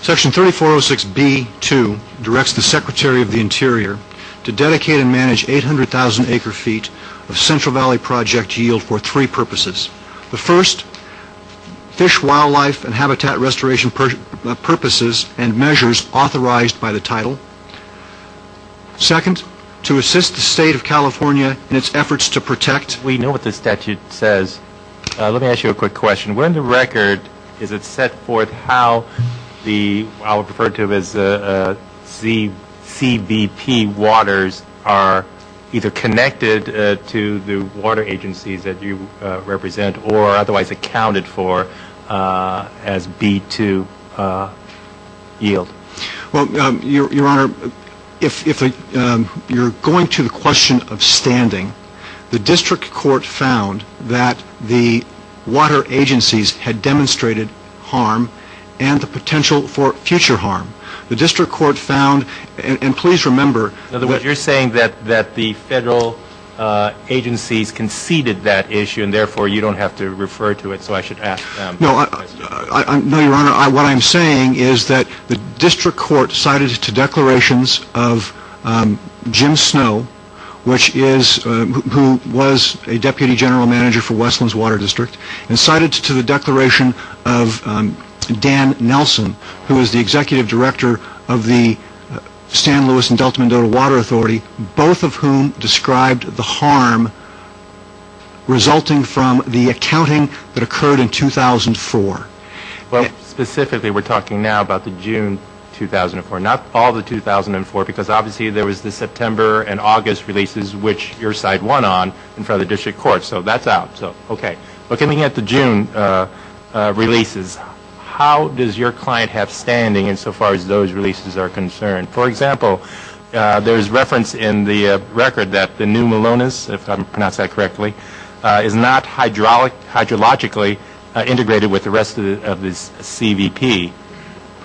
Section 3406B.2 directs the Secretary of the Interior to dedicate and manage 800,000 acre feet of Central Valley project yield for three purposes. The first, fish, wildlife and habitat restoration purposes and measures authorized by the title. Second, to assist the State of California in its efforts to protect. We know what the statute says. Let me ask you a quick question. When the record is it set forth how the CBP waters are either connected to the water agencies that you represent or otherwise accounted for as B2 yield? Well, Your Honor, if you're going to the question of standing, the district court found that the water agencies had demonstrated harm and the potential for future harm. The district court found, and please remember... In other words, you're saying that the federal agencies conceded that issue and therefore you don't have to refer to it, so I should ask... No, Your Honor, what I'm saying is that the district court cited to declarations of Jim Snow, who was a Deputy General Manager for Westlands Water District, and cited to the declaration of Dan Nelson, who is the Executive Director of the San Luis and Delta Mendoza Water Authority, both of whom described the harm resulting from the accounting that occurred in 2004. Well, specifically we're talking now about the June 2004, not all the 2004 because obviously there was the September and August releases which your side won on in front of the district court, so that's out. Okay, looking at the June releases, how does your client have standing insofar as those releases are concerned? For example, there's reference in the record that the new Malonis, if I pronounced that correctly, is not hydrologically integrated with the rest of this CVP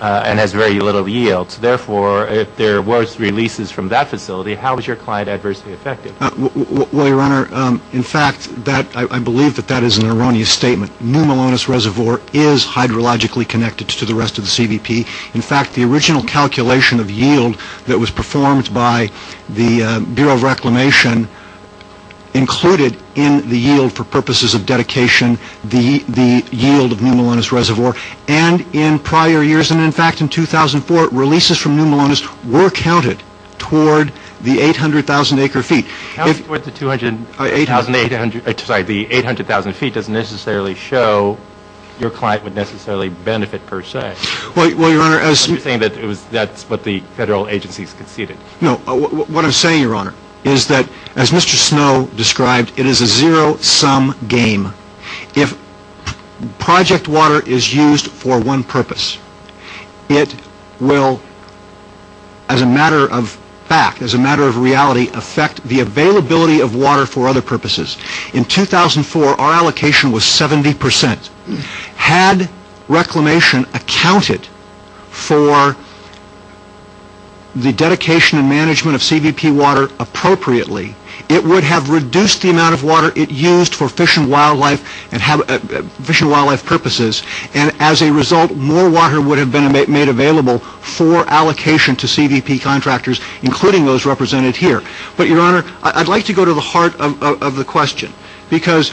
and has very little yield. Therefore, if there were releases from that facility, how is your client adversely affected? Well, Your Honor, in fact, I believe that that is an erroneous statement. New Malonis Reservoir is hydrologically connected to the rest of the CVP. In fact, the original calculation of yield that was performed by the Bureau of Reclamation included in the yield for purposes of dedication, the yield of New Malonis Reservoir, and in prior years, and in fact in 2004, releases from New Malonis were counted toward the 800,000 acre feet. The 800,000 feet doesn't necessarily show your client would necessarily benefit per se. Well, Your Honor, as You're saying that that's what the federal agencies conceded. No, what I'm saying, Your Honor, is that as Mr. Snow described, it is a zero-sum game. If project water is used for one purpose, it will, as a matter of fact, as a matter of reality, affect the availability of water for other purposes. In 2004, our allocation was 70%. Had Reclamation accounted for the dedication and management of CVP water appropriately, it would have reduced the amount of water it used for fish and wildlife purposes, and as a result, more water would have been made available for allocation to CVP contractors, including those represented here. But, Your Honor, I'd like to go to the heart of the question, because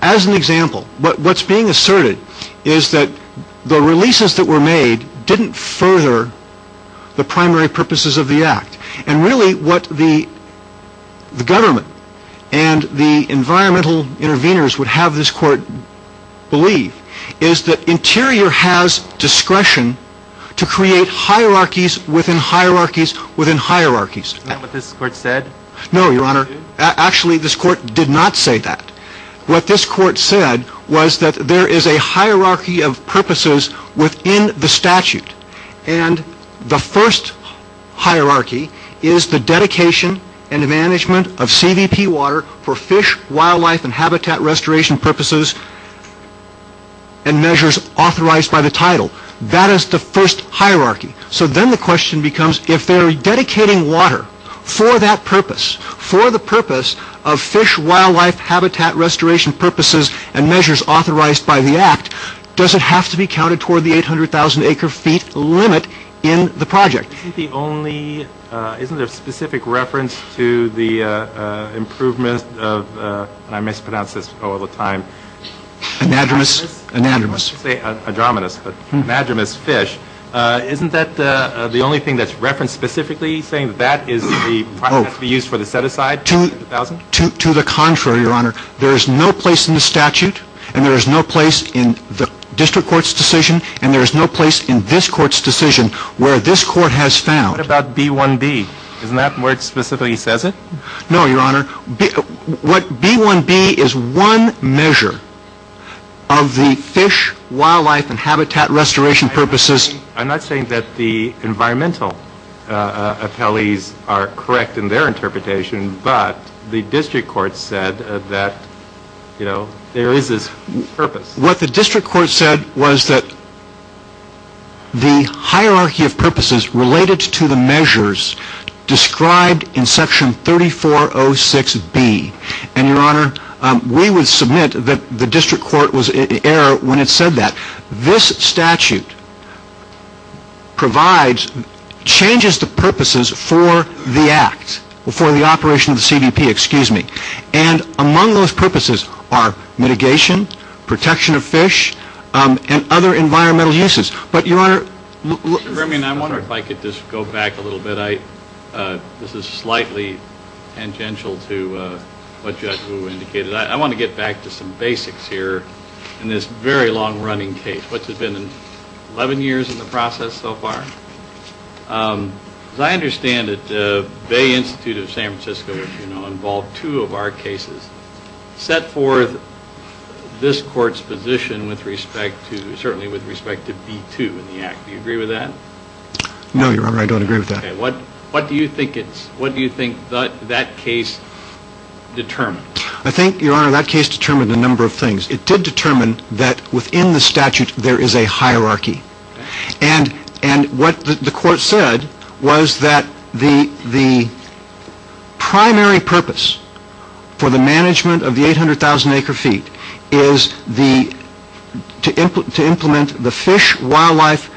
as an example, what's being asserted is that the releases that were made didn't further the primary purposes of the Act. And really, what the government and the environmental interveners would have this Court believe is that Interior has discretion to create hierarchies within hierarchies within hierarchies. Is that what this Court said? No, Your Honor. Actually, this Court did not say that. What this Court said was that there is a hierarchy of purposes within the statute, and the first hierarchy is the dedication and management of CVP water for fish, wildlife, and habitat restoration purposes and measures authorized by the title. That is the first hierarchy. So then the question becomes, if they're dedicating water for that purpose, for the purpose of fish, wildlife, habitat restoration purposes and measures authorized by the Act, does it have to be counted toward the 800,000 acre feet limit in the project? Isn't the only — isn't there a specific reference to the improvement of — and I mispronounce this all the time — Anadromous. Anadromous. I was going to say adromous, but anadromous fish. Isn't that the only thing that's referenced specifically, saying that that is the — has to be used for the set-aside? To the contrary, Your Honor. There is no place in the statute, and there is no place in the District Court's decision, and there is no place in this Court's decision where this Court has found — What about B-1-B? Isn't that where it specifically says it? No, Your Honor. What — B-1-B is one measure of the fish, wildlife, and habitat restoration purposes — I'm not saying that the environmental appellees are correct in their interpretation, but the District Court said that, you know, there is this purpose. What the District Court said was that the hierarchy of purposes related to the measures described in Section 3406B — And, Your Honor, we would submit that the District Court was in error when it said that. This statute provides — changes the purposes for the act, for the operation of the CBP, excuse me. And among those purposes are mitigation, protection of fish, and other environmental uses. But, Your Honor — Mr. Bermion, I wonder if I could just go back a little bit. This is slightly tangential to what Judge Wu indicated. I want to get back to some basics here in this very long-running case, which has been 11 years in the process so far. As I understand it, the Bay Institute of San Francisco, as you know, involved two of our cases, set forth this Court's position with respect to — Do you agree with that? No, Your Honor, I don't agree with that. What do you think that case determined? I think, Your Honor, that case determined a number of things. It did determine that within the statute there is a hierarchy. And what the Court said was that the primary purpose for the management of the 800,000 acre feet is to implement the fish, wildlife,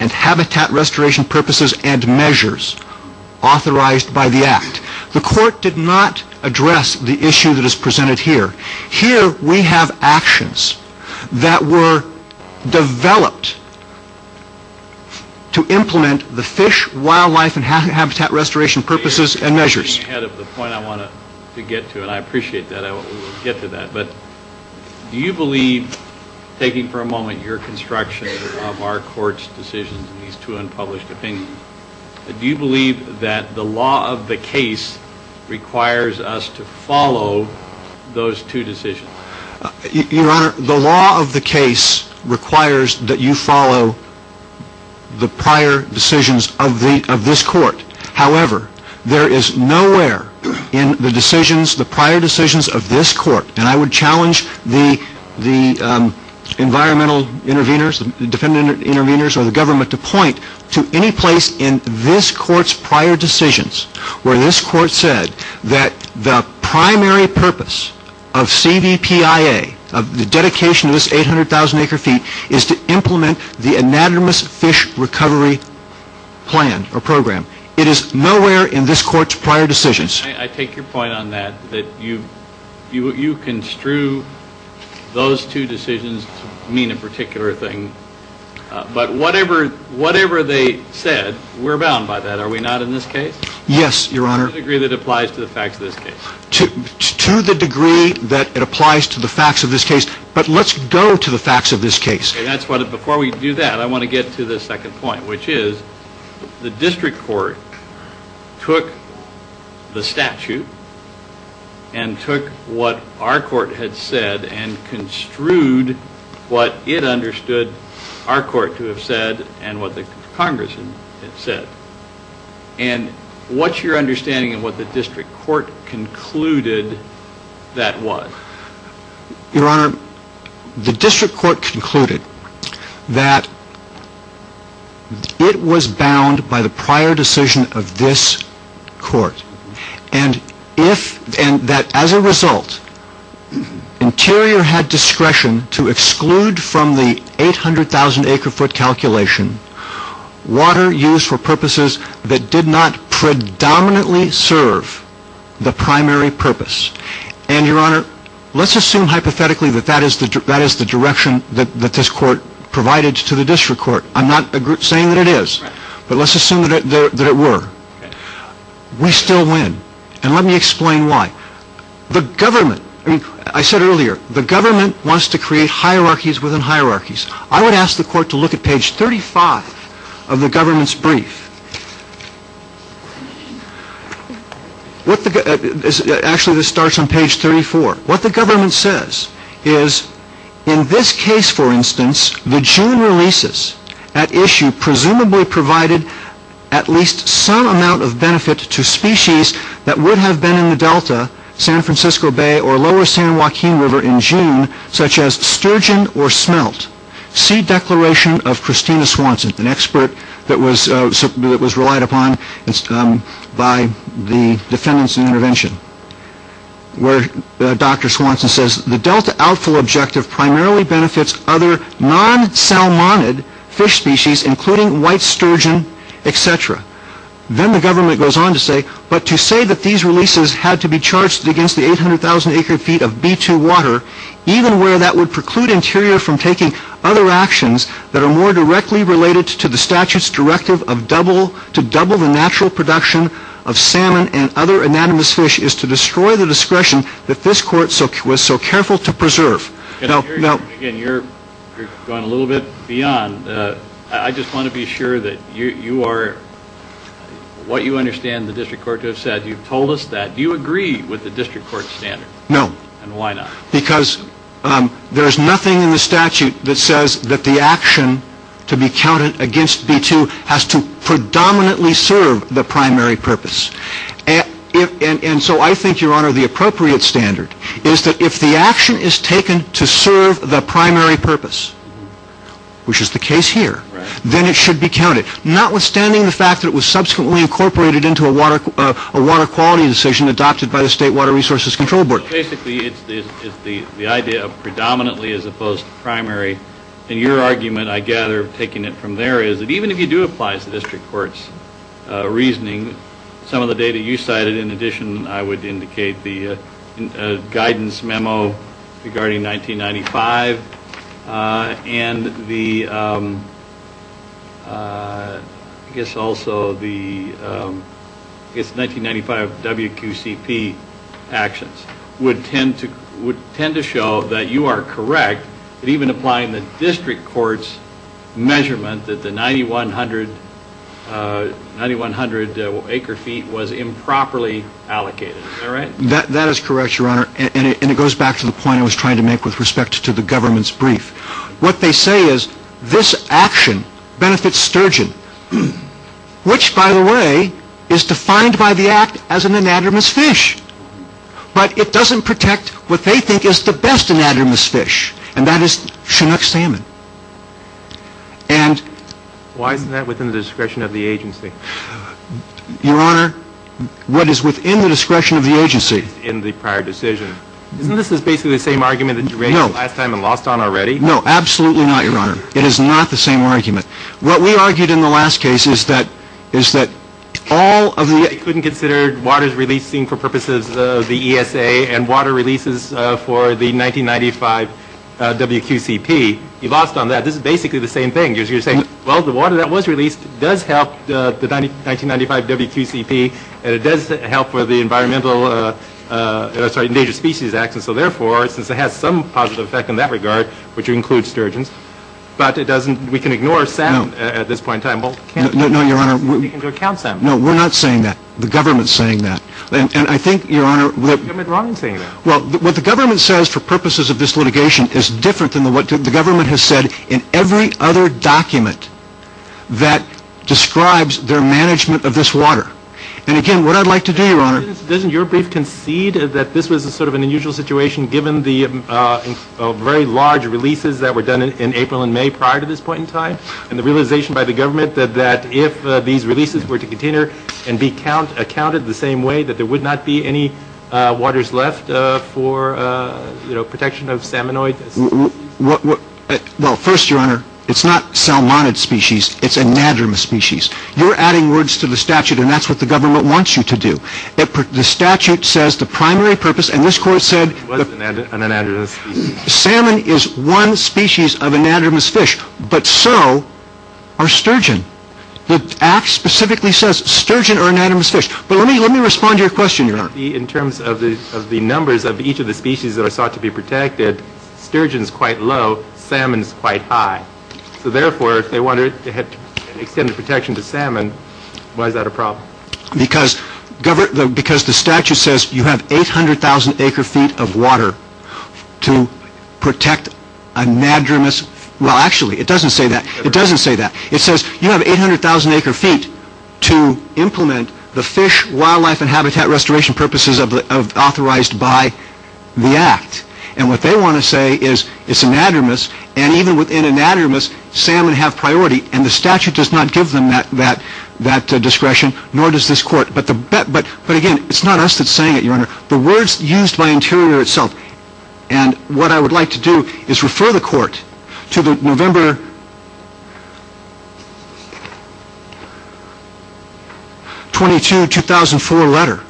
and habitat restoration purposes and measures authorized by the act. The Court did not address the issue that is presented here. Here we have actions that were developed to implement the fish, wildlife, and habitat restoration purposes and measures. I'm getting ahead of the point I want to get to, and I appreciate that we'll get to that. But do you believe — taking for a moment your construction of our Court's decisions in these two unpublished opinions — do you believe that the law of the case requires us to follow those two decisions? Your Honor, the law of the case requires that you follow the prior decisions of this Court. However, there is nowhere in the decisions, the prior decisions of this Court — and I would challenge the environmental intervenors, the defendant intervenors, or the government to point to any place in this Court's prior decisions where this Court said that the primary purpose of CVPIA, of the dedication of this 800,000 acre feet, is to implement the anatomous fish recovery plan or program. It is nowhere in this Court's prior decisions. I take your point on that, that you construe those two decisions to mean a particular thing. But whatever they said, we're bound by that. Are we not in this case? Yes, Your Honor. To the degree that it applies to the facts of this case. To the degree that it applies to the facts of this case. But let's go to the facts of this case. Before we do that, I want to get to the second point, which is the District Court took the statute and took what our Court had said and construed what it understood our Court to have said and what the Congress had said. And what's your understanding of what the District Court concluded that was? And, Your Honor, let's assume hypothetically that that is the direction that this Court provided to the District Court. I'm not saying that it is, but let's assume that it were. We still win. And let me explain why. The government, I said earlier, the government wants to create hierarchies within hierarchies. I would ask the Court to look at page 35 of the government's brief. Actually, this starts on page 34. What the government says is, in this case, for instance, the June releases at issue presumably provided at least some amount of benefit to species that would have been in the Delta, San Francisco Bay, or lower San Joaquin River in June, such as sturgeon or smelt. See declaration of Christina Swanson, an expert that was relied upon by the defendants in intervention, where Dr. Swanson says, The Delta outflow objective primarily benefits other non-salmonid fish species, including white sturgeon, etc. Then the government goes on to say, but to say that these releases had to be charged against the 800,000 acre feet of B2 water, even where that would preclude Interior from taking other actions that are more directly related to the statute's directive to double the natural production of salmon and other anatomous fish is to destroy the discretion that this Court was so careful to preserve. Again, you're going a little bit beyond. I just want to be sure that you are, what you understand the District Court to have said, you've told us that. Do you agree with the District Court's standard? No. And why not? Because there is nothing in the statute that says that the action to be counted against B2 has to predominantly serve the primary purpose. And so I think, Your Honor, the appropriate standard is that if the action is taken to serve the primary purpose, which is the case here, then it should be counted. Notwithstanding the fact that it was subsequently incorporated into a water quality decision adopted by the State Water Resources Control Board. So basically, it's the idea of predominantly as opposed to primary. And your argument, I gather, taking it from there, is that even if you do apply the District Court's reasoning, some of the data you cited, in addition, I would indicate the guidance memo regarding 1995, and the, I guess also the, I guess 1995 WQCP actions, would tend to show that you are correct in even applying the District Court's measurement that the 9,100 acre feet was improperly allocated. Is that right? That is correct, Your Honor. And it goes back to the point I was trying to make with respect to the government's brief. What they say is this action benefits sturgeon, which, by the way, is defined by the Act as an anadromous fish. But it doesn't protect what they think is the best anadromous fish, and that is Chinook salmon. And... Why isn't that within the discretion of the agency? Your Honor, what is within the discretion of the agency... In the prior decision. Isn't this basically the same argument that you raised last time and lost on already? No, absolutely not, Your Honor. It is not the same argument. What we argued in the last case is that all of the... You couldn't consider waters releasing for purposes of the ESA and water releases for the 1995 WQCP. You lost on that. This is basically the same thing. You're saying, well, the water that was released does help the 1995 WQCP, and it does help with the Endangered Species Act, and so therefore, since it has some positive effect in that regard, which includes sturgeons, but we can ignore salmon at this point in time. No, Your Honor. You can go count salmon. No, we're not saying that. The government's saying that. And I think, Your Honor... What's the government wrong in saying that? Well, what the government says for purposes of this litigation is different than what the government has said in every other document that describes their management of this water. And, again, what I'd like to do, Your Honor... Doesn't your brief concede that this was sort of an unusual situation, given the very large releases that were done in April and May prior to this point in time, and the realization by the government that if these releases were to continue and be counted the same way, that there would not be any waters left for protection of salmonoid species? Well, first, Your Honor, it's not salmonid species. It's anadromous species. You're adding words to the statute, and that's what the government wants you to do. The statute says the primary purpose, and this Court said... It was an anadromous species. Salmon is one species of anadromous fish, but so are sturgeon. The Act specifically says sturgeon are anadromous fish. But let me respond to your question, Your Honor. In terms of the numbers of each of the species that are sought to be protected, sturgeon's quite low, salmon's quite high. So, therefore, if they wanted to extend the protection to salmon, why is that a problem? Because the statute says you have 800,000 acre-feet of water to protect anadromous... Well, actually, it doesn't say that. It doesn't say that. It says you have 800,000 acre-feet to implement the fish, wildlife, and habitat restoration purposes authorized by the Act. And what they want to say is it's anadromous, and even within anadromous, salmon have priority. And the statute does not give them that discretion, nor does this Court. But, again, it's not us that's saying it, Your Honor. The words used by Interior itself. And what I would like to do is refer the Court to the November 22, 2004 letter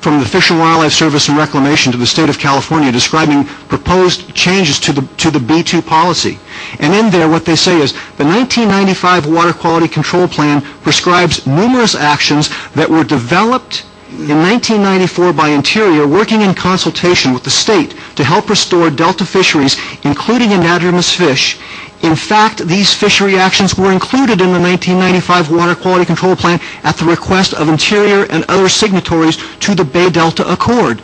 from the Fish and Wildlife Service and Reclamation to the State of California describing proposed changes to the B2 policy. And in there, what they say is the 1995 Water Quality Control Plan prescribes numerous actions that were developed in 1994 by Interior, working in consultation with the State to help restore delta fisheries, including anadromous fish. In fact, these fishery actions were included in the 1995 Water Quality Control Plan at the request of Interior and other signatories to the Bay Delta Accord.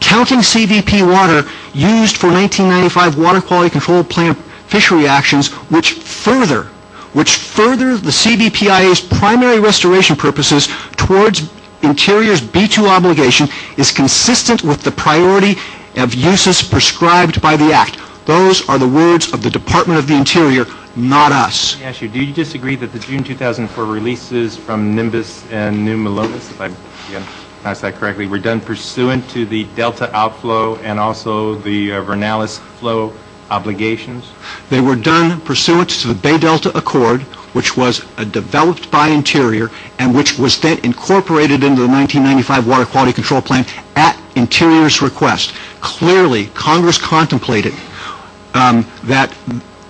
Counting CVP water used for 1995 Water Quality Control Plan fishery actions, which further the CVPIA's primary restoration purposes towards Interior's B2 obligation is consistent with the priority of uses prescribed by the Act. Those are the words of the Department of the Interior, not us. May I ask you, do you disagree that the June 2004 releases from Nimbus and New Melones, if I've pronounced that correctly, were done pursuant to the delta outflow and also the Vernalis flow obligations? They were done pursuant to the Bay Delta Accord, which was developed by Interior and which was then incorporated into the 1995 Water Quality Control Plan at Interior's request. Clearly, Congress contemplated that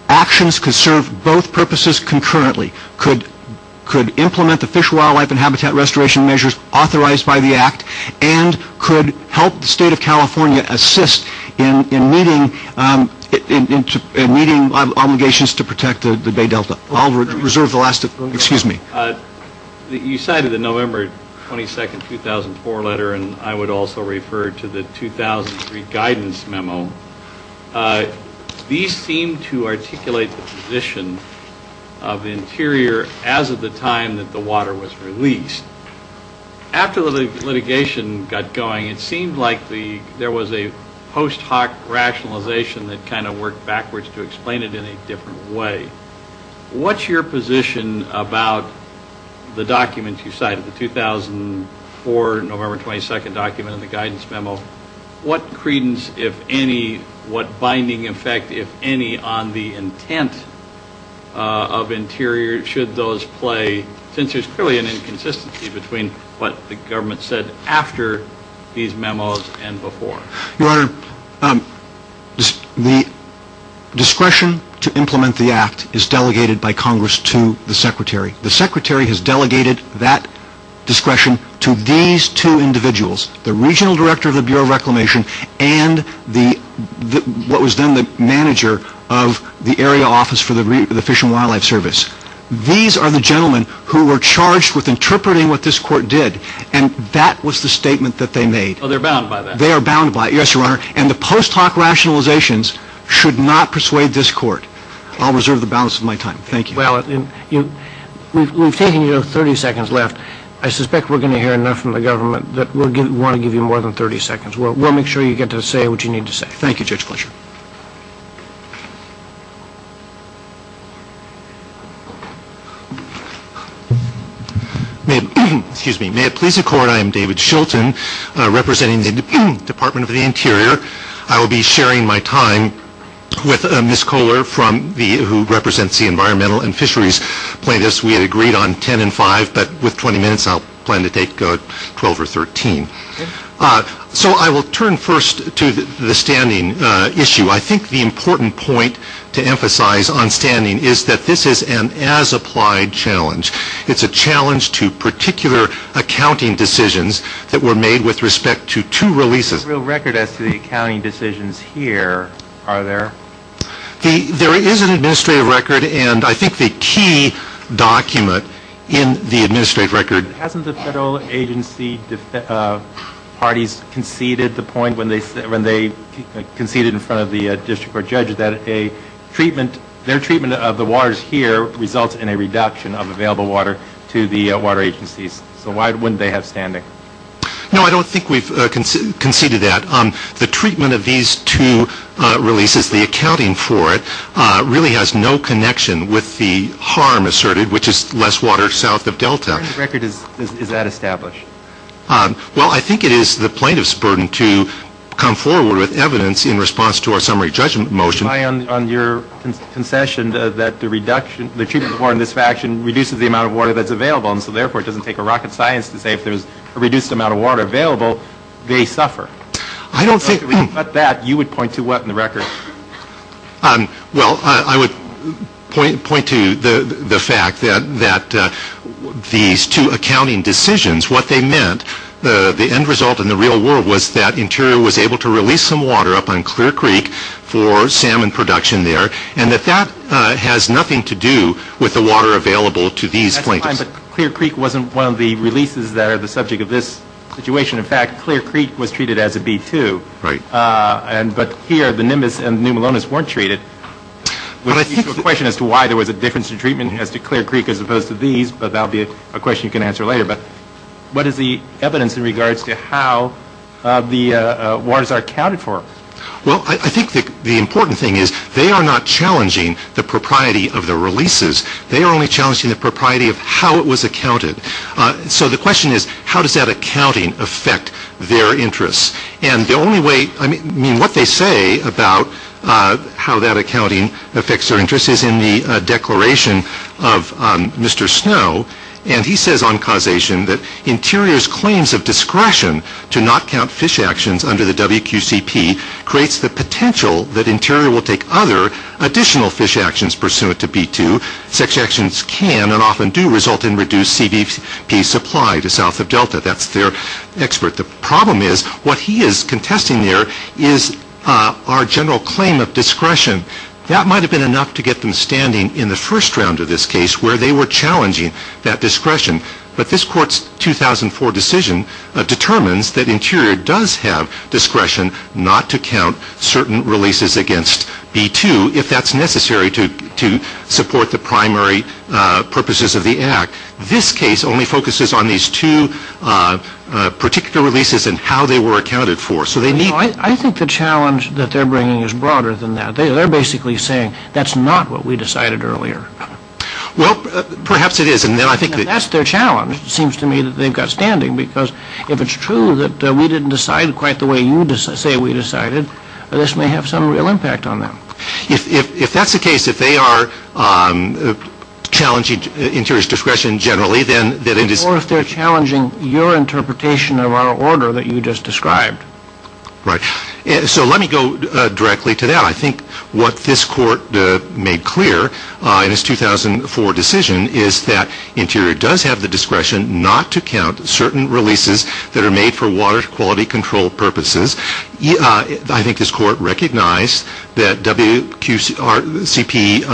actions could serve both purposes concurrently. Could implement the fish, wildlife, and habitat restoration measures authorized by the Act and could help the State of California assist in meeting obligations to protect the Bay Delta. I'll reserve the last, excuse me. You cited the November 22, 2004 letter and I would also refer to the 2003 guidance memo. These seem to articulate the position of Interior as of the time that the water was released. After the litigation got going, it seemed like there was a post hoc rationalization that kind of worked backwards to explain it in a different way. What's your position about the documents you cited, the 2004 November 22 document and the guidance memo? What credence, if any, what binding effect, if any, on the intent of Interior should those play? Since there's clearly an inconsistency between what the government said after these memos and before. Your Honor, the discretion to implement the Act is delegated by Congress to the Secretary. The Secretary has delegated that discretion to these two individuals, the Regional Director of the Bureau of Reclamation and what was then the manager of the area office for the Fish and Wildlife Service. These are the gentlemen who were charged with interpreting what this court did and that was the statement that they made. Oh, they're bound by that? They are bound by it, yes, Your Honor. And the post hoc rationalizations should not persuade this court. I'll reserve the balance of my time. Thank you. Well, we've taken you 30 seconds left. I suspect we're going to hear enough from the government that we'll want to give you more than 30 seconds. We'll make sure you get to say what you need to say. Thank you, Judge Fletcher. May it please the Court, I am David Shilton, representing the Department of the Interior. I will be sharing my time with Ms. Kohler, who represents the environmental and fisheries plaintiffs. We had agreed on 10 and 5, but with 20 minutes I plan to take 12 or 13. So I will turn first to the standing issue. I think the important point to emphasize on standing is that this is an as-applied challenge. It's a challenge to particular accounting decisions that were made with respect to two releases. There's no real record as to the accounting decisions here, are there? There is an administrative record, and I think the key document in the administrative record. Hasn't the federal agency parties conceded the point when they conceded in front of the district court judge that their treatment of the waters here results in a reduction of available water to the water agencies? So why wouldn't they have standing? No, I don't think we've conceded that. The treatment of these two releases, the accounting for it, really has no connection with the harm asserted, which is less water south of Delta. Where in the record is that established? Well, I think it is the plaintiff's burden to come forward with evidence in response to our summary judgment motion. On your concession that the reduction, the treatment of water in this faction reduces the amount of water that's available, and so therefore it doesn't take a rocket science to say if there's a reduced amount of water available, they suffer. I don't think. Well, I would point to the fact that these two accounting decisions, what they meant, the end result in the real world was that Interior was able to release some water up on Clear Creek for salmon production there, and that that has nothing to do with the water available to these plaintiffs. Clear Creek wasn't one of the releases that are the subject of this situation. In fact, Clear Creek was treated as a B2. Right. But here, the Nimbus and the New Melones weren't treated. I think the question as to why there was a difference in treatment as to Clear Creek as opposed to these, but that will be a question you can answer later. But what is the evidence in regards to how the waters are accounted for? Well, I think the important thing is they are not challenging the propriety of the releases. They are only challenging the propriety of how it was accounted. So the question is, how does that accounting affect their interests? And the only way, I mean, what they say about how that accounting affects their interests is in the declaration of Mr. Snow, and he says on causation that Interior's claims of discretion to not count fish actions under the WQCP creates the potential that Interior will take other additional fish actions pursuant to B2. Such actions can and often do result in reduced CBP supply to south of Delta. That's their expert. The problem is what he is contesting there is our general claim of discretion. That might have been enough to get them standing in the first round of this case where they were challenging that discretion. But this Court's 2004 decision determines that Interior does have discretion not to count certain releases against B2 if that's necessary to support the primary purposes of the Act. This case only focuses on these two particular releases and how they were accounted for. I think the challenge that they're bringing is broader than that. They're basically saying that's not what we decided earlier. Well, perhaps it is. That's their challenge, it seems to me, that they've got standing because if it's true that we didn't decide quite the way you say we decided, this may have some real impact on them. If that's the case, if they are challenging Interior's discretion generally, then... Or if they're challenging your interpretation of our order that you just described. Right. So let me go directly to that. I think what this Court made clear in its 2004 decision is that Interior does have the discretion not to count certain releases that are made for water quality control purposes. I think this Court recognized that WQRCP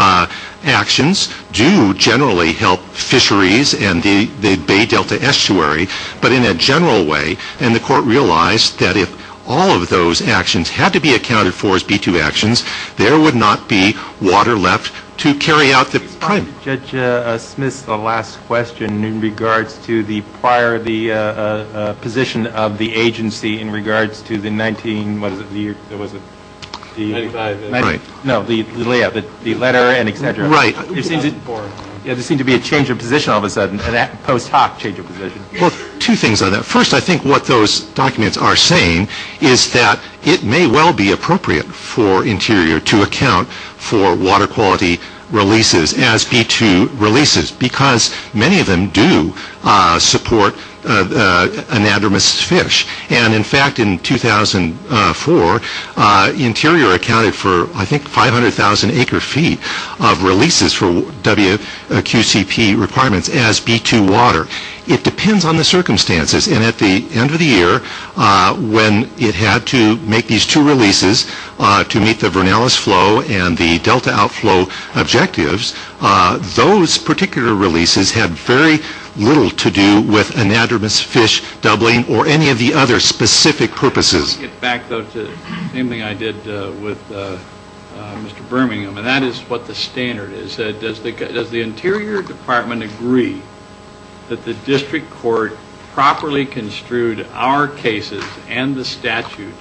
actions do generally help fisheries and the Bay Delta Estuary, but in a general way. And the Court realized that if all of those actions had to be accounted for as B2 actions, there would not be water left to carry out the primary... Judge Smith's last question in regards to the prior position of the agency in regards to the 19... What was it? The letter and et cetera. Right. There seemed to be a change of position all of a sudden, a post hoc change of position. Well, two things on that. First, I think what those documents are saying is that it may well be appropriate for Interior to account for water quality releases as B2 releases because many of them do support anadromous fish. And in fact, in 2004, Interior accounted for, I think, 500,000 acre feet of releases for WQCP requirements as B2 water. It depends on the circumstances. And at the end of the year, when it had to make these two releases to meet the Vernalis Flow and the Delta Outflow objectives, those particular releases had very little to do with anadromous fish doubling or any of the other specific purposes. I want to get back, though, to the same thing I did with Mr. Birmingham, and that is what the standard is. Does the Interior Department agree that the district court properly construed our cases and the statute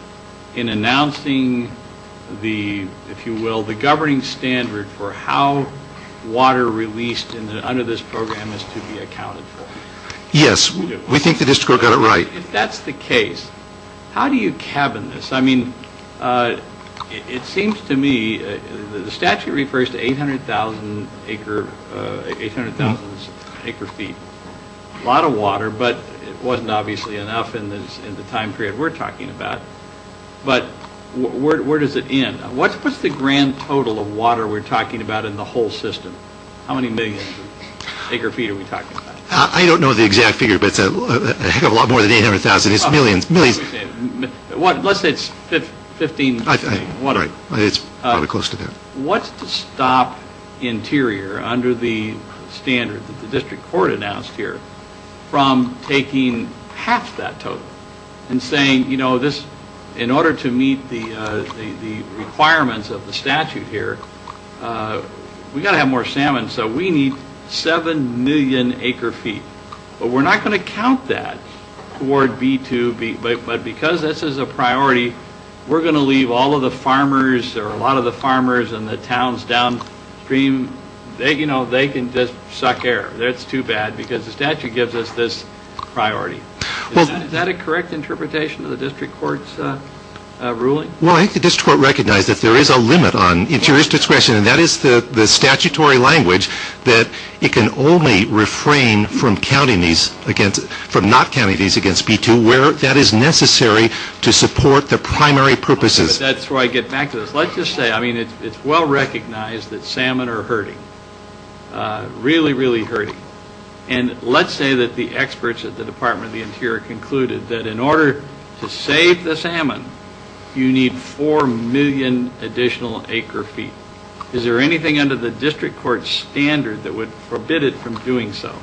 in announcing the, if you will, the governing standard for how water released under this program is to be accounted for? Yes. We think the district court got it right. If that's the case, how do you cabin this? I mean, it seems to me the statute refers to 800,000 acre feet, a lot of water, but it wasn't obviously enough in the time period we're talking about. But where does it end? What's the grand total of water we're talking about in the whole system? How many millions of acre feet are we talking about? I don't know the exact figure, but it's a heck of a lot more than 800,000. It's millions, millions. Let's say it's 15 million. It's probably close to that. What's to stop Interior, under the standard that the district court announced here, from taking half that total and saying, you know, in order to meet the requirements of the statute here, we've got to have more salmon, so we need 7 million acre feet. But we're not going to count that toward B2. But because this is a priority, we're going to leave all of the farmers or a lot of the farmers and the towns downstream. You know, they can just suck air. That's too bad because the statute gives us this priority. Is that a correct interpretation of the district court's ruling? Well, I think the district court recognized that there is a limit on interior's discretion, and that is the statutory language that it can only refrain from not counting these against B2 where that is necessary to support the primary purposes. That's where I get back to this. Let's just say, I mean, it's well recognized that salmon are hurting, really, really hurting. And let's say that the experts at the Department of the Interior concluded that in order to save the salmon, you need 4 million additional acre feet. Is there anything under the district court's standard that would forbid it from doing so?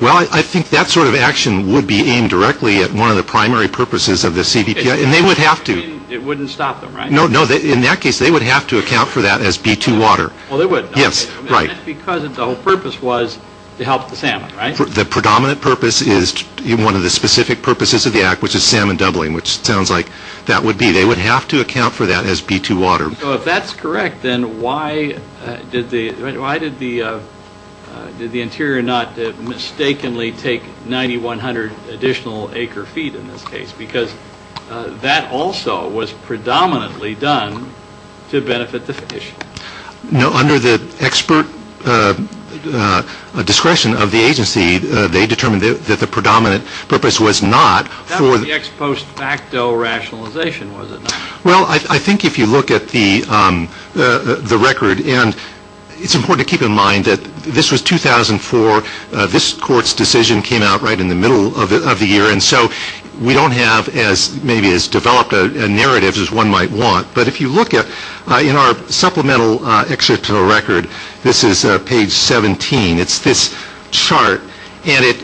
Well, I think that sort of action would be aimed directly at one of the primary purposes of the CBPI, and they would have to. It wouldn't stop them, right? No, no. In that case, they would have to account for that as B2 water. Well, they would. Yes, right. Because the whole purpose was to help the salmon, right? The predominant purpose is one of the specific purposes of the act, which is salmon doubling, which sounds like that would be. They would have to account for that as B2 water. So if that's correct, then why did the Interior not mistakenly take 9,100 additional acre feet in this case? Because that also was predominantly done to benefit the fish. No, under the expert discretion of the agency, they determined that the predominant purpose was not for the What was the next post facto rationalization? Well, I think if you look at the record, and it's important to keep in mind that this was 2004. This court's decision came out right in the middle of the year, and so we don't have maybe as developed a narrative as one might want. But if you look at in our supplemental excerpt to the record, this is page 17. It's this chart, and it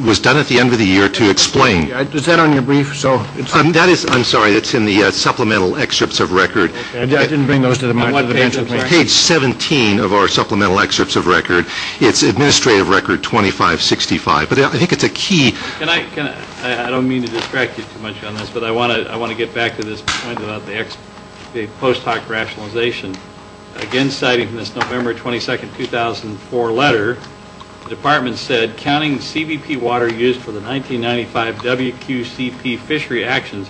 was done at the end of the year to explain. Is that on your brief? I'm sorry. It's in the supplemental excerpts of record. I didn't bring those to the bench with me. Page 17 of our supplemental excerpts of record. It's administrative record 2565, but I think it's a key. I don't mean to distract you too much on this, but I want to get back to this point about the post hoc rationalization. Again, citing this November 22, 2004 letter, the department said, counting CBP water used for the 1995 WQCP fishery actions,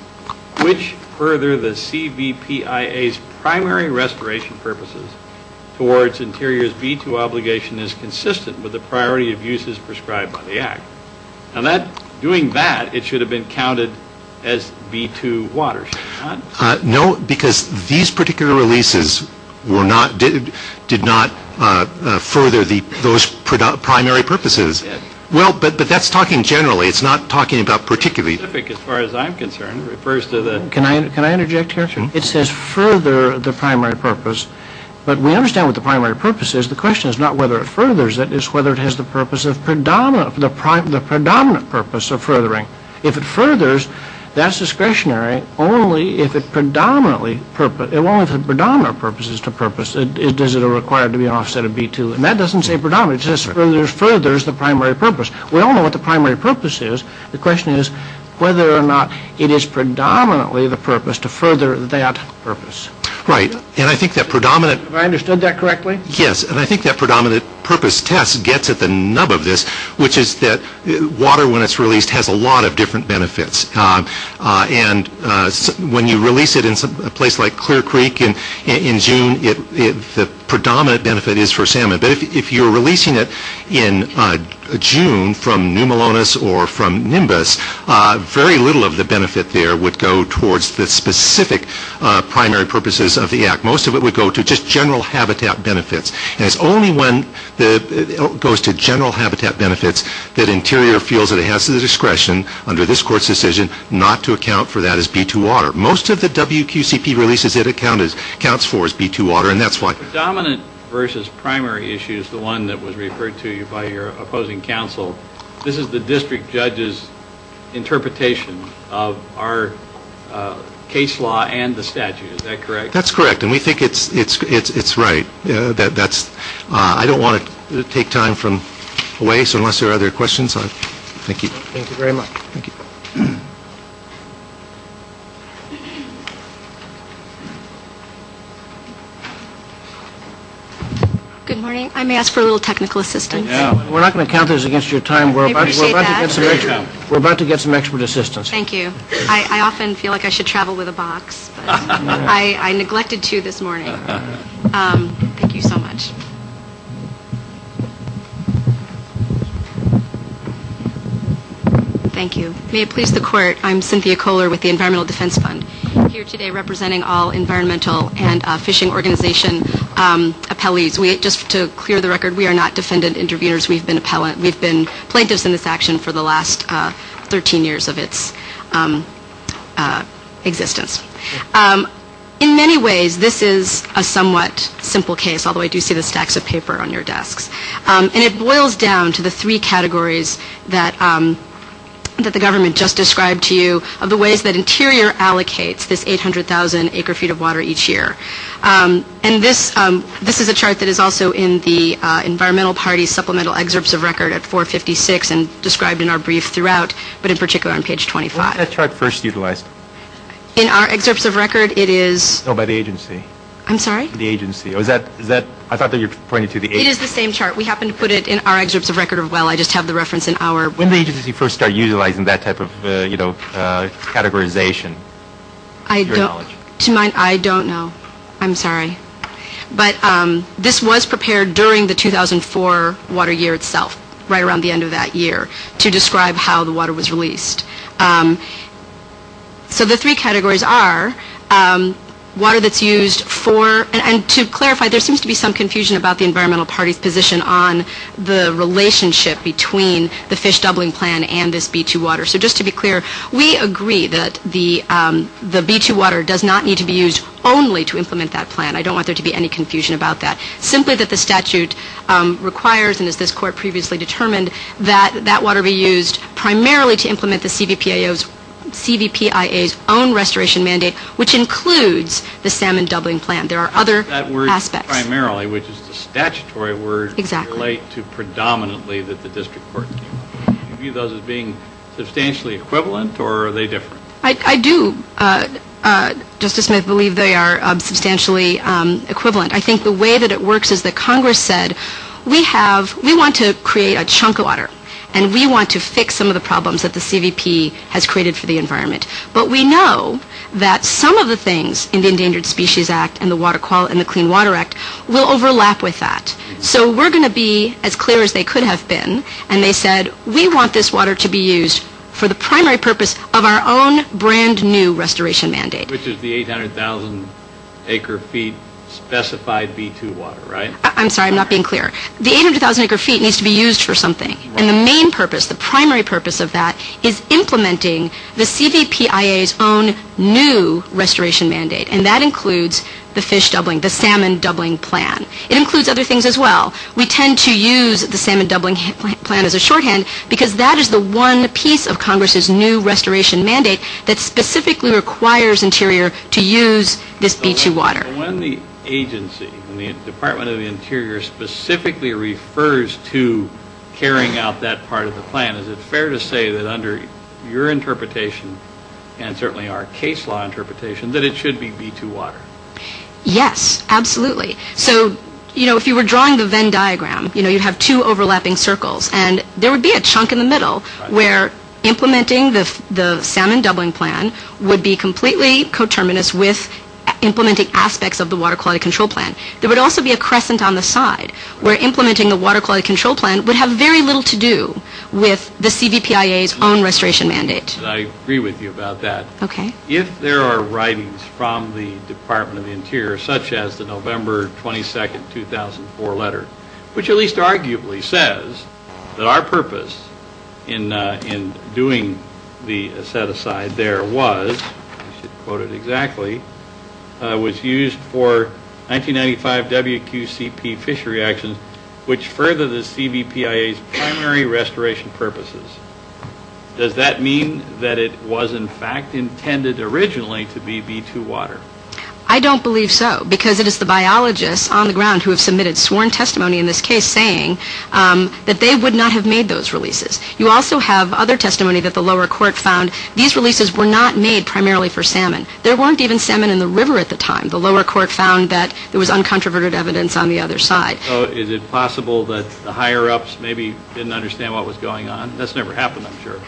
which further the CBPIA's primary restoration purposes towards Interior's B2 obligation Doing that, it should have been counted as B2 water, should it not? No, because these particular releases did not further those primary purposes. But that's talking generally. It's not talking about particularly. As far as I'm concerned, it refers to the Can I interject here? It says further the primary purpose, but we understand what the primary purpose is. The question is not whether it furthers it. The question is whether it has the predominant purpose of furthering. If it furthers, that's discretionary only if the predominant purpose is to purpose. Does it require it to be an offset of B2? And that doesn't say predominant. It says furthers the primary purpose. We all know what the primary purpose is. The question is whether or not it is predominantly the purpose to further that purpose. Right, and I think that predominant Have I understood that correctly? Yes, and I think that predominant purpose test gets at the nub of this, which is that water, when it's released, has a lot of different benefits. And when you release it in a place like Clear Creek in June, the predominant benefit is for salmon. But if you're releasing it in June from New Melones or from Nimbus, very little of the benefit there would go towards the specific primary purposes of the Act. Most of it would go to just general habitat benefits. And it's only when it goes to general habitat benefits that Interior feels that it has the discretion, under this Court's decision, not to account for that as B2 water. Most of the WQCP releases it accounts for as B2 water, and that's why. Predominant versus primary issues, the one that was referred to you by your opposing counsel, this is the district judge's interpretation of our case law and the statute. Is that correct? That's correct, and we think it's right. I don't want to take time away, so unless there are other questions, thank you. Thank you very much. Good morning. I may ask for a little technical assistance. We're not going to count this against your time. We're about to get some expert assistance. Thank you. I often feel like I should travel with a box, but I neglected to this morning. Thank you so much. Thank you. May it please the Court, I'm Cynthia Kohler with the Environmental Defense Fund. I'm here today representing all environmental and fishing organization appellees. Just to clear the record, we are not defendant interviewers. We've been plaintiffs in this action for the last 13 years of its existence. In many ways, this is a somewhat simple case, although I do see the stacks of paper on your desks. And it boils down to the three categories that the government just described to you, of the ways that Interior allocates this 800,000 acre feet of water each year. And this is a chart that is also in the Environmental Party Supplemental Excerpts of Record at 456 and described in our brief throughout, but in particular on page 25. When was that chart first utilized? In our excerpts of record, it is... Oh, by the agency. I'm sorry? The agency. I thought that you were pointing to the agency. It is the same chart. We happen to put it in our excerpts of record as well. I just have the reference in our... When did the agency first start utilizing that type of categorization, to your knowledge? To my... I don't know. I'm sorry. But this was prepared during the 2004 water year itself, right around the end of that year, to describe how the water was released. So the three categories are water that's used for... And to clarify, there seems to be some confusion about the Environmental Party's position on the relationship between the Fish Doubling Plan and this B2 water. So just to be clear, we agree that the B2 water does not need to be used only to implement that plan. I don't want there to be any confusion about that. Simply that the statute requires, and as this court previously determined, that that water be used primarily to implement the CVPIA's own restoration mandate, which includes the Salmon Doubling Plan. There are other aspects. That word primarily, which is the statutory word... Exactly. ...relate to predominantly that the district court... Do you view those as being substantially equivalent, or are they different? I do, Justice Smith, believe they are substantially equivalent. I think the way that it works is that Congress said, we want to create a chunk of water, and we want to fix some of the problems that the CVP has created for the environment. But we know that some of the things in the Endangered Species Act and the Clean Water Act will overlap with that. So we're going to be as clear as they could have been, and they said, we want this water to be used for the primary purpose of our own brand new restoration mandate. Which is the 800,000 acre feet specified B2 water, right? I'm sorry, I'm not being clear. The 800,000 acre feet needs to be used for something. And the main purpose, the primary purpose of that, is implementing the CVPIA's own new restoration mandate, and that includes the fish doubling, the Salmon Doubling Plan. It includes other things as well. We tend to use the Salmon Doubling Plan as a shorthand, because that is the one piece of Congress's new restoration mandate that specifically requires Interior to use this B2 water. When the agency, the Department of the Interior, specifically refers to carrying out that part of the plan, is it fair to say that under your interpretation, and certainly our case law interpretation, that it should be B2 water? Yes, absolutely. So, you know, if you were drawing the Venn diagram, you'd have two overlapping circles, and there would be a chunk in the middle where implementing the Salmon Doubling Plan would be completely coterminous with implementing aspects of the Water Quality Control Plan. There would also be a crescent on the side where implementing the Water Quality Control Plan would have very little to do with the CVPIA's own restoration mandate. I agree with you about that. If there are writings from the Department of the Interior, such as the November 22, 2004 letter, which at least arguably says that our purpose in doing the set-aside there was, I should quote it exactly, was used for 1995 WQCP fishery actions, which further the CVPIA's primary restoration purposes, does that mean that it was in fact intended originally to be B2 water? I don't believe so, because it is the biologists on the ground who have submitted sworn testimony in this case saying that they would not have made those releases. You also have other testimony that the lower court found these releases were not made primarily for salmon. There weren't even salmon in the river at the time. The lower court found that there was uncontroverted evidence on the other side. Is it possible that the higher-ups maybe didn't understand what was going on? That's never happened, I'm sure.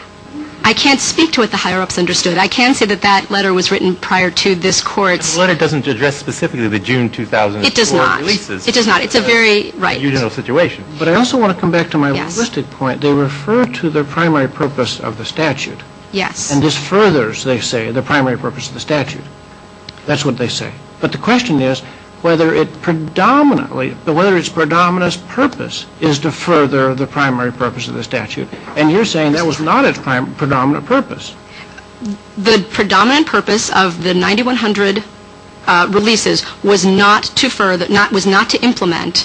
I can't speak to what the higher-ups understood. I can say that that letter was written prior to this court's… The letter doesn't address specifically the June 2004 releases. It does not. It does not. It's a very unilateral situation. But I also want to come back to my listed point. They refer to the primary purpose of the statute. Yes. And this furthers, they say, the primary purpose of the statute. That's what they say. But the question is whether its predominant purpose is to further the primary purpose of the statute. And you're saying that was not its predominant purpose. The predominant purpose of the 9100 releases was not to implement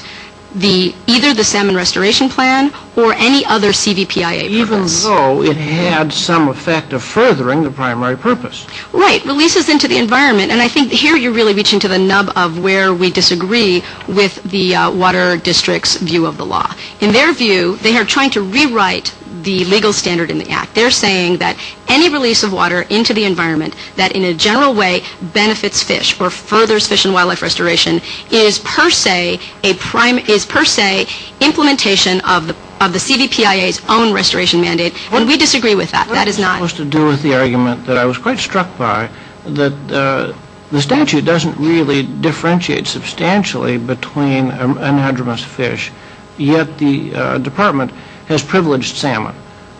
either the Salmon Restoration Plan or any other CVPIA purpose. Even though it had some effect of furthering the primary purpose. Right. Releases into the environment. And I think here you're really reaching to the nub of where we disagree with the Water District's view of the law. They're saying that any release of water into the environment that in a general way benefits fish or furthers fish and wildlife restoration is per se implementation of the CVPIA's own restoration mandate. And we disagree with that. That is not… Well, that has to do with the argument that I was quite struck by that the statute doesn't really differentiate substantially between anadromous fish, yet the department has privileged salmon.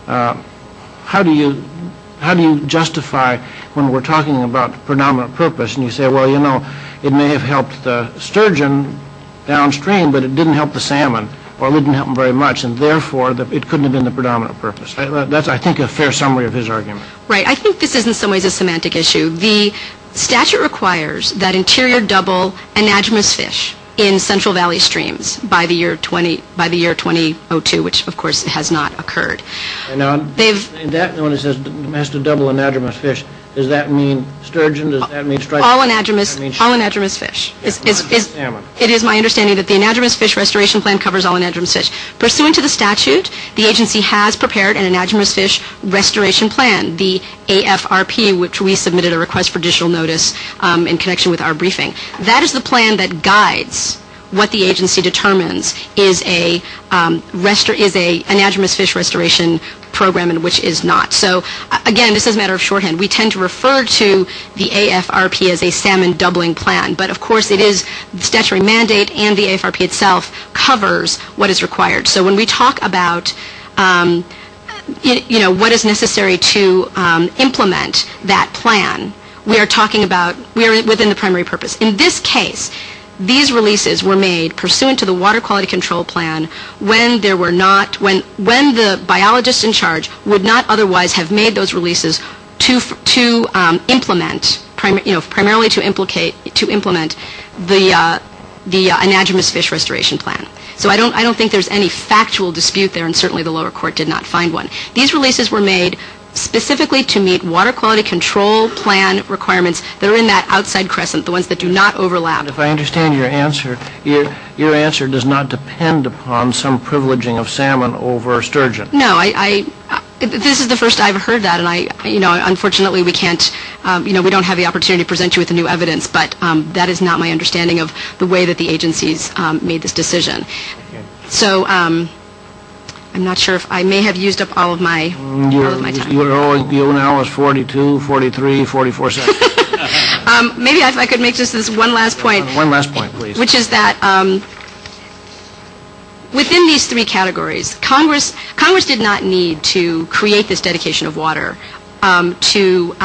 How do you justify when we're talking about predominant purpose and you say, well, you know, it may have helped the sturgeon downstream but it didn't help the salmon or it didn't help them very much and therefore it couldn't have been the predominant purpose. That's, I think, a fair summary of his argument. Right. I think this is in some ways a semantic issue. The statute requires that interior double anadromous fish in Central Valley streams by the year 2002, which, of course, has not occurred. And that one says it has to double anadromous fish. Does that mean sturgeon? All anadromous fish. It is my understanding that the anadromous fish restoration plan covers all anadromous fish. Pursuant to the statute, the agency has prepared an anadromous fish restoration plan, the AFRP, which we submitted a request for additional notice in connection with our briefing. That is the plan that guides what the agency determines is an anadromous fish restoration program and which is not. So, again, this is a matter of shorthand. We tend to refer to the AFRP as a salmon doubling plan. But, of course, it is the statutory mandate and the AFRP itself covers what is required. So when we talk about what is necessary to implement that plan, we are talking about, we are within the primary purpose. In this case, these releases were made pursuant to the water quality control plan when there were not, when the biologist in charge would not otherwise have made those releases to implement, primarily to implement the anadromous fish restoration plan. So I don't think there is any factual dispute there and certainly the lower court did not find one. These releases were made specifically to meet water quality control plan requirements that are in that outside crescent, the ones that do not overlap. If I understand your answer, your answer does not depend upon some privileging of salmon over sturgeon. No, I, this is the first I have heard that and I, you know, unfortunately we can't, you know, we don't have the opportunity to present you with the new evidence, but that is not my understanding of the way that the agencies made this decision. So, I'm not sure if I may have used up all of my time. You are now at 42, 43, 44 seconds. Maybe if I could make just this one last point. One last point, please. Which is that within these three categories, Congress did not need to create this dedication of water to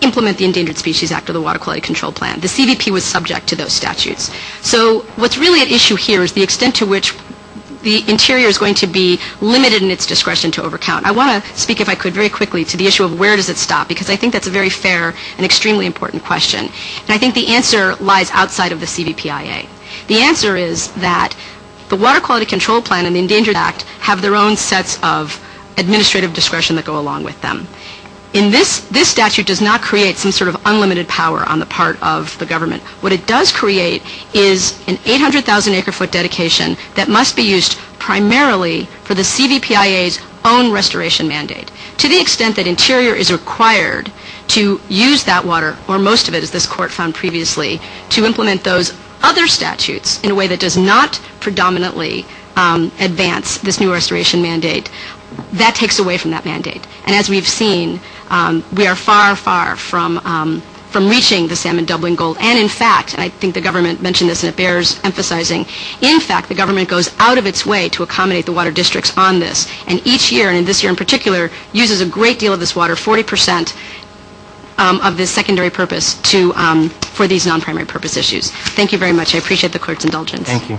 implement the Endangered Species Act or the Water Quality Control Plan. The CVP was subject to those statutes. So what's really at issue here is the extent to which the interior is going to be limited in its discretion to over count. I want to speak if I could very quickly to the issue of where does it stop because I think that's a very fair and extremely important question. And I think the answer lies outside of the CVPIA. The answer is that the Water Quality Control Plan and the Endangered Act have their own sets of administrative discretion that go along with them. In this, this statute does not create some sort of unlimited power on the part of the government. What it does create is an 800,000 acre foot dedication that must be used primarily for the CVPIA's own restoration mandate. To the extent that interior is required to use that water, or most of it as this court found previously, to implement those other statutes in a way that does not predominantly advance this new restoration mandate, that takes away from that mandate. And as we've seen, we are far, far from reaching the salmon doubling goal. And in fact, and I think the government mentioned this and it bears emphasizing, in fact the government goes out of its way to accommodate the water districts on this. And each year, and this year in particular, uses a great deal of this water, 40% of this secondary purpose for these non-primary purpose issues. Thank you very much. I appreciate the clerk's indulgence. Thank you.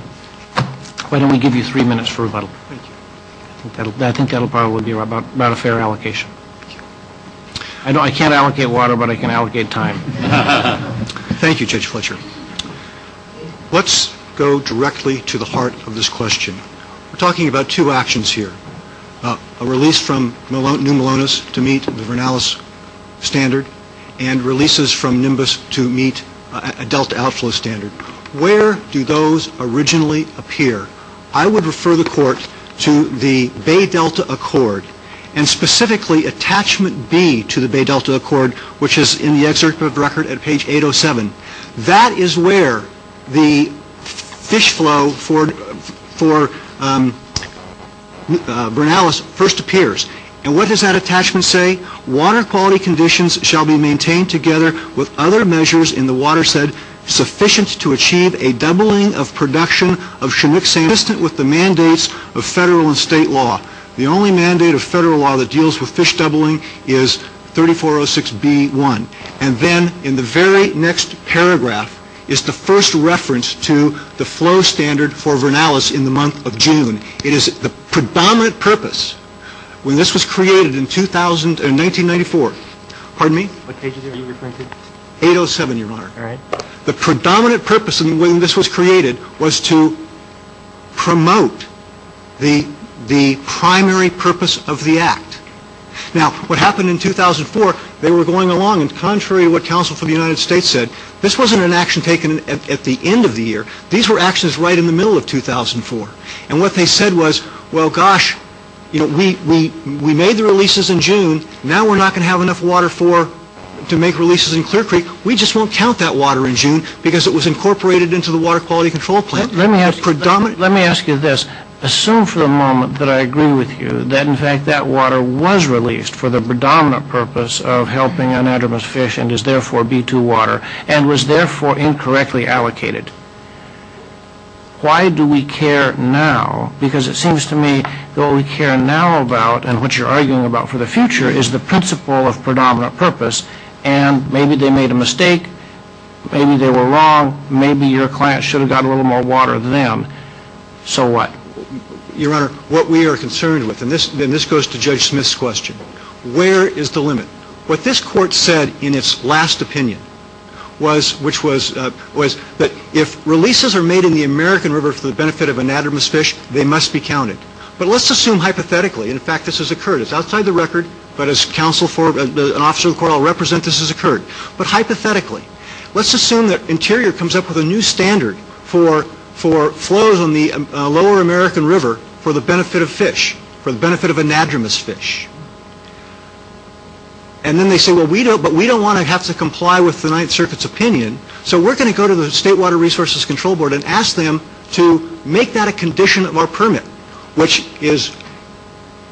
Why don't we give you three minutes for rebuttal. I think that will probably be about a fair allocation. I can't allocate water, but I can allocate time. Thank you, Judge Fletcher. Let's go directly to the heart of this question. We're talking about two actions here. A release from New Melones to meet the Vernalis standard, and releases from Nimbus to meet a delta outflow standard. Where do those originally appear? I would refer the court to the Bay Delta Accord, and specifically attachment B to the Bay Delta Accord, which is in the excerpt of the record at page 807. That is where the fish flow for Vernalis first appears. And what does that attachment say? Water quality conditions shall be maintained together with other measures in the watershed sufficient to achieve a doubling of production of Chinook salmon. Consistent with the mandates of federal and state law. The only mandate of federal law that deals with fish doubling is 3406B1. And then, in the very next paragraph, is the first reference to the flow standard for Vernalis in the month of June. It is the predominant purpose when this was created in 1994. Pardon me? What page are you referring to? 807, Your Honor. All right. The predominant purpose when this was created was to promote the primary purpose of the act. Now, what happened in 2004, they were going along, and contrary to what counsel for the United States said, this wasn't an action taken at the end of the year. These were actions right in the middle of 2004. And what they said was, well, gosh, we made the releases in June. Now we're not going to have enough water to make releases in Clear Creek. We just won't count that water in June because it was incorporated into the water quality control plan. Let me ask you this. Assume for the moment that I agree with you that, in fact, that water was released for the predominant purpose of helping anadromous fish and is therefore B2 water and was therefore incorrectly allocated. Why do we care now? Because it seems to me that what we care now about and what you're arguing about for the future is the principle of predominant purpose, and maybe they made a mistake, maybe they were wrong, maybe your client should have gotten a little more water than them. So what? Your Honor, what we are concerned with, and this goes to Judge Smith's question, where is the limit? What this court said in its last opinion was that if releases are made in the American River for the benefit of anadromous fish, they must be counted. But let's assume hypothetically, in fact, this has occurred. It's outside the record, but as an officer of the court I'll represent, this has occurred. But hypothetically, let's assume that Interior comes up with a new standard for flows on the lower American River for the benefit of fish, for the benefit of anadromous fish. And then they say, but we don't want to have to comply with the Ninth Circuit's opinion, so we're going to go to the State Water Resources Control Board and ask them to make that a condition of our permit, which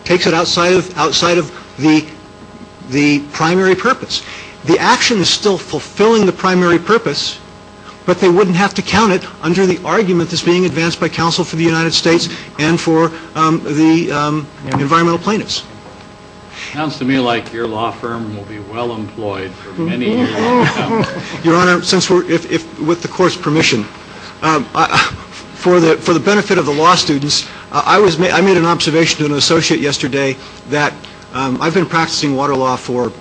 takes it outside of the primary purpose. The action is still fulfilling the primary purpose, but they wouldn't have to count it under the argument that's being advanced by counsel for the United States and for the environmental plaintiffs. It sounds to me like your law firm will be well employed for many years to come. Your Honor, with the court's permission, for the benefit of the law students, I made an observation to an associate yesterday that I've been practicing water law for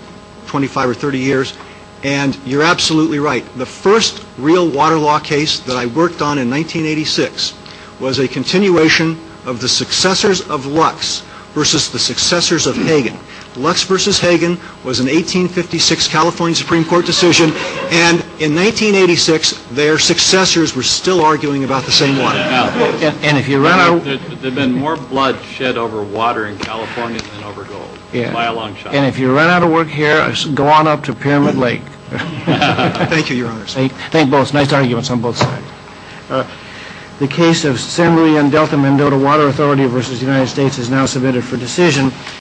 25 or 30 years, and you're absolutely right. The first real water law case that I worked on in 1986 was a continuation of the successors of Lux versus the successors of Hagen. Lux versus Hagen was an 1856 California Supreme Court decision, and in 1986 their successors were still arguing about the same one. There's been more blood shed over water in California than over gold, by a long shot. And if you run out of work here, go on up to Pyramid Lake. Thank you, Your Honor. Thank both. Nice arguments on both sides. The case of San Luis Yandelta-Mendota Water Authority versus the United States is now submitted for decision.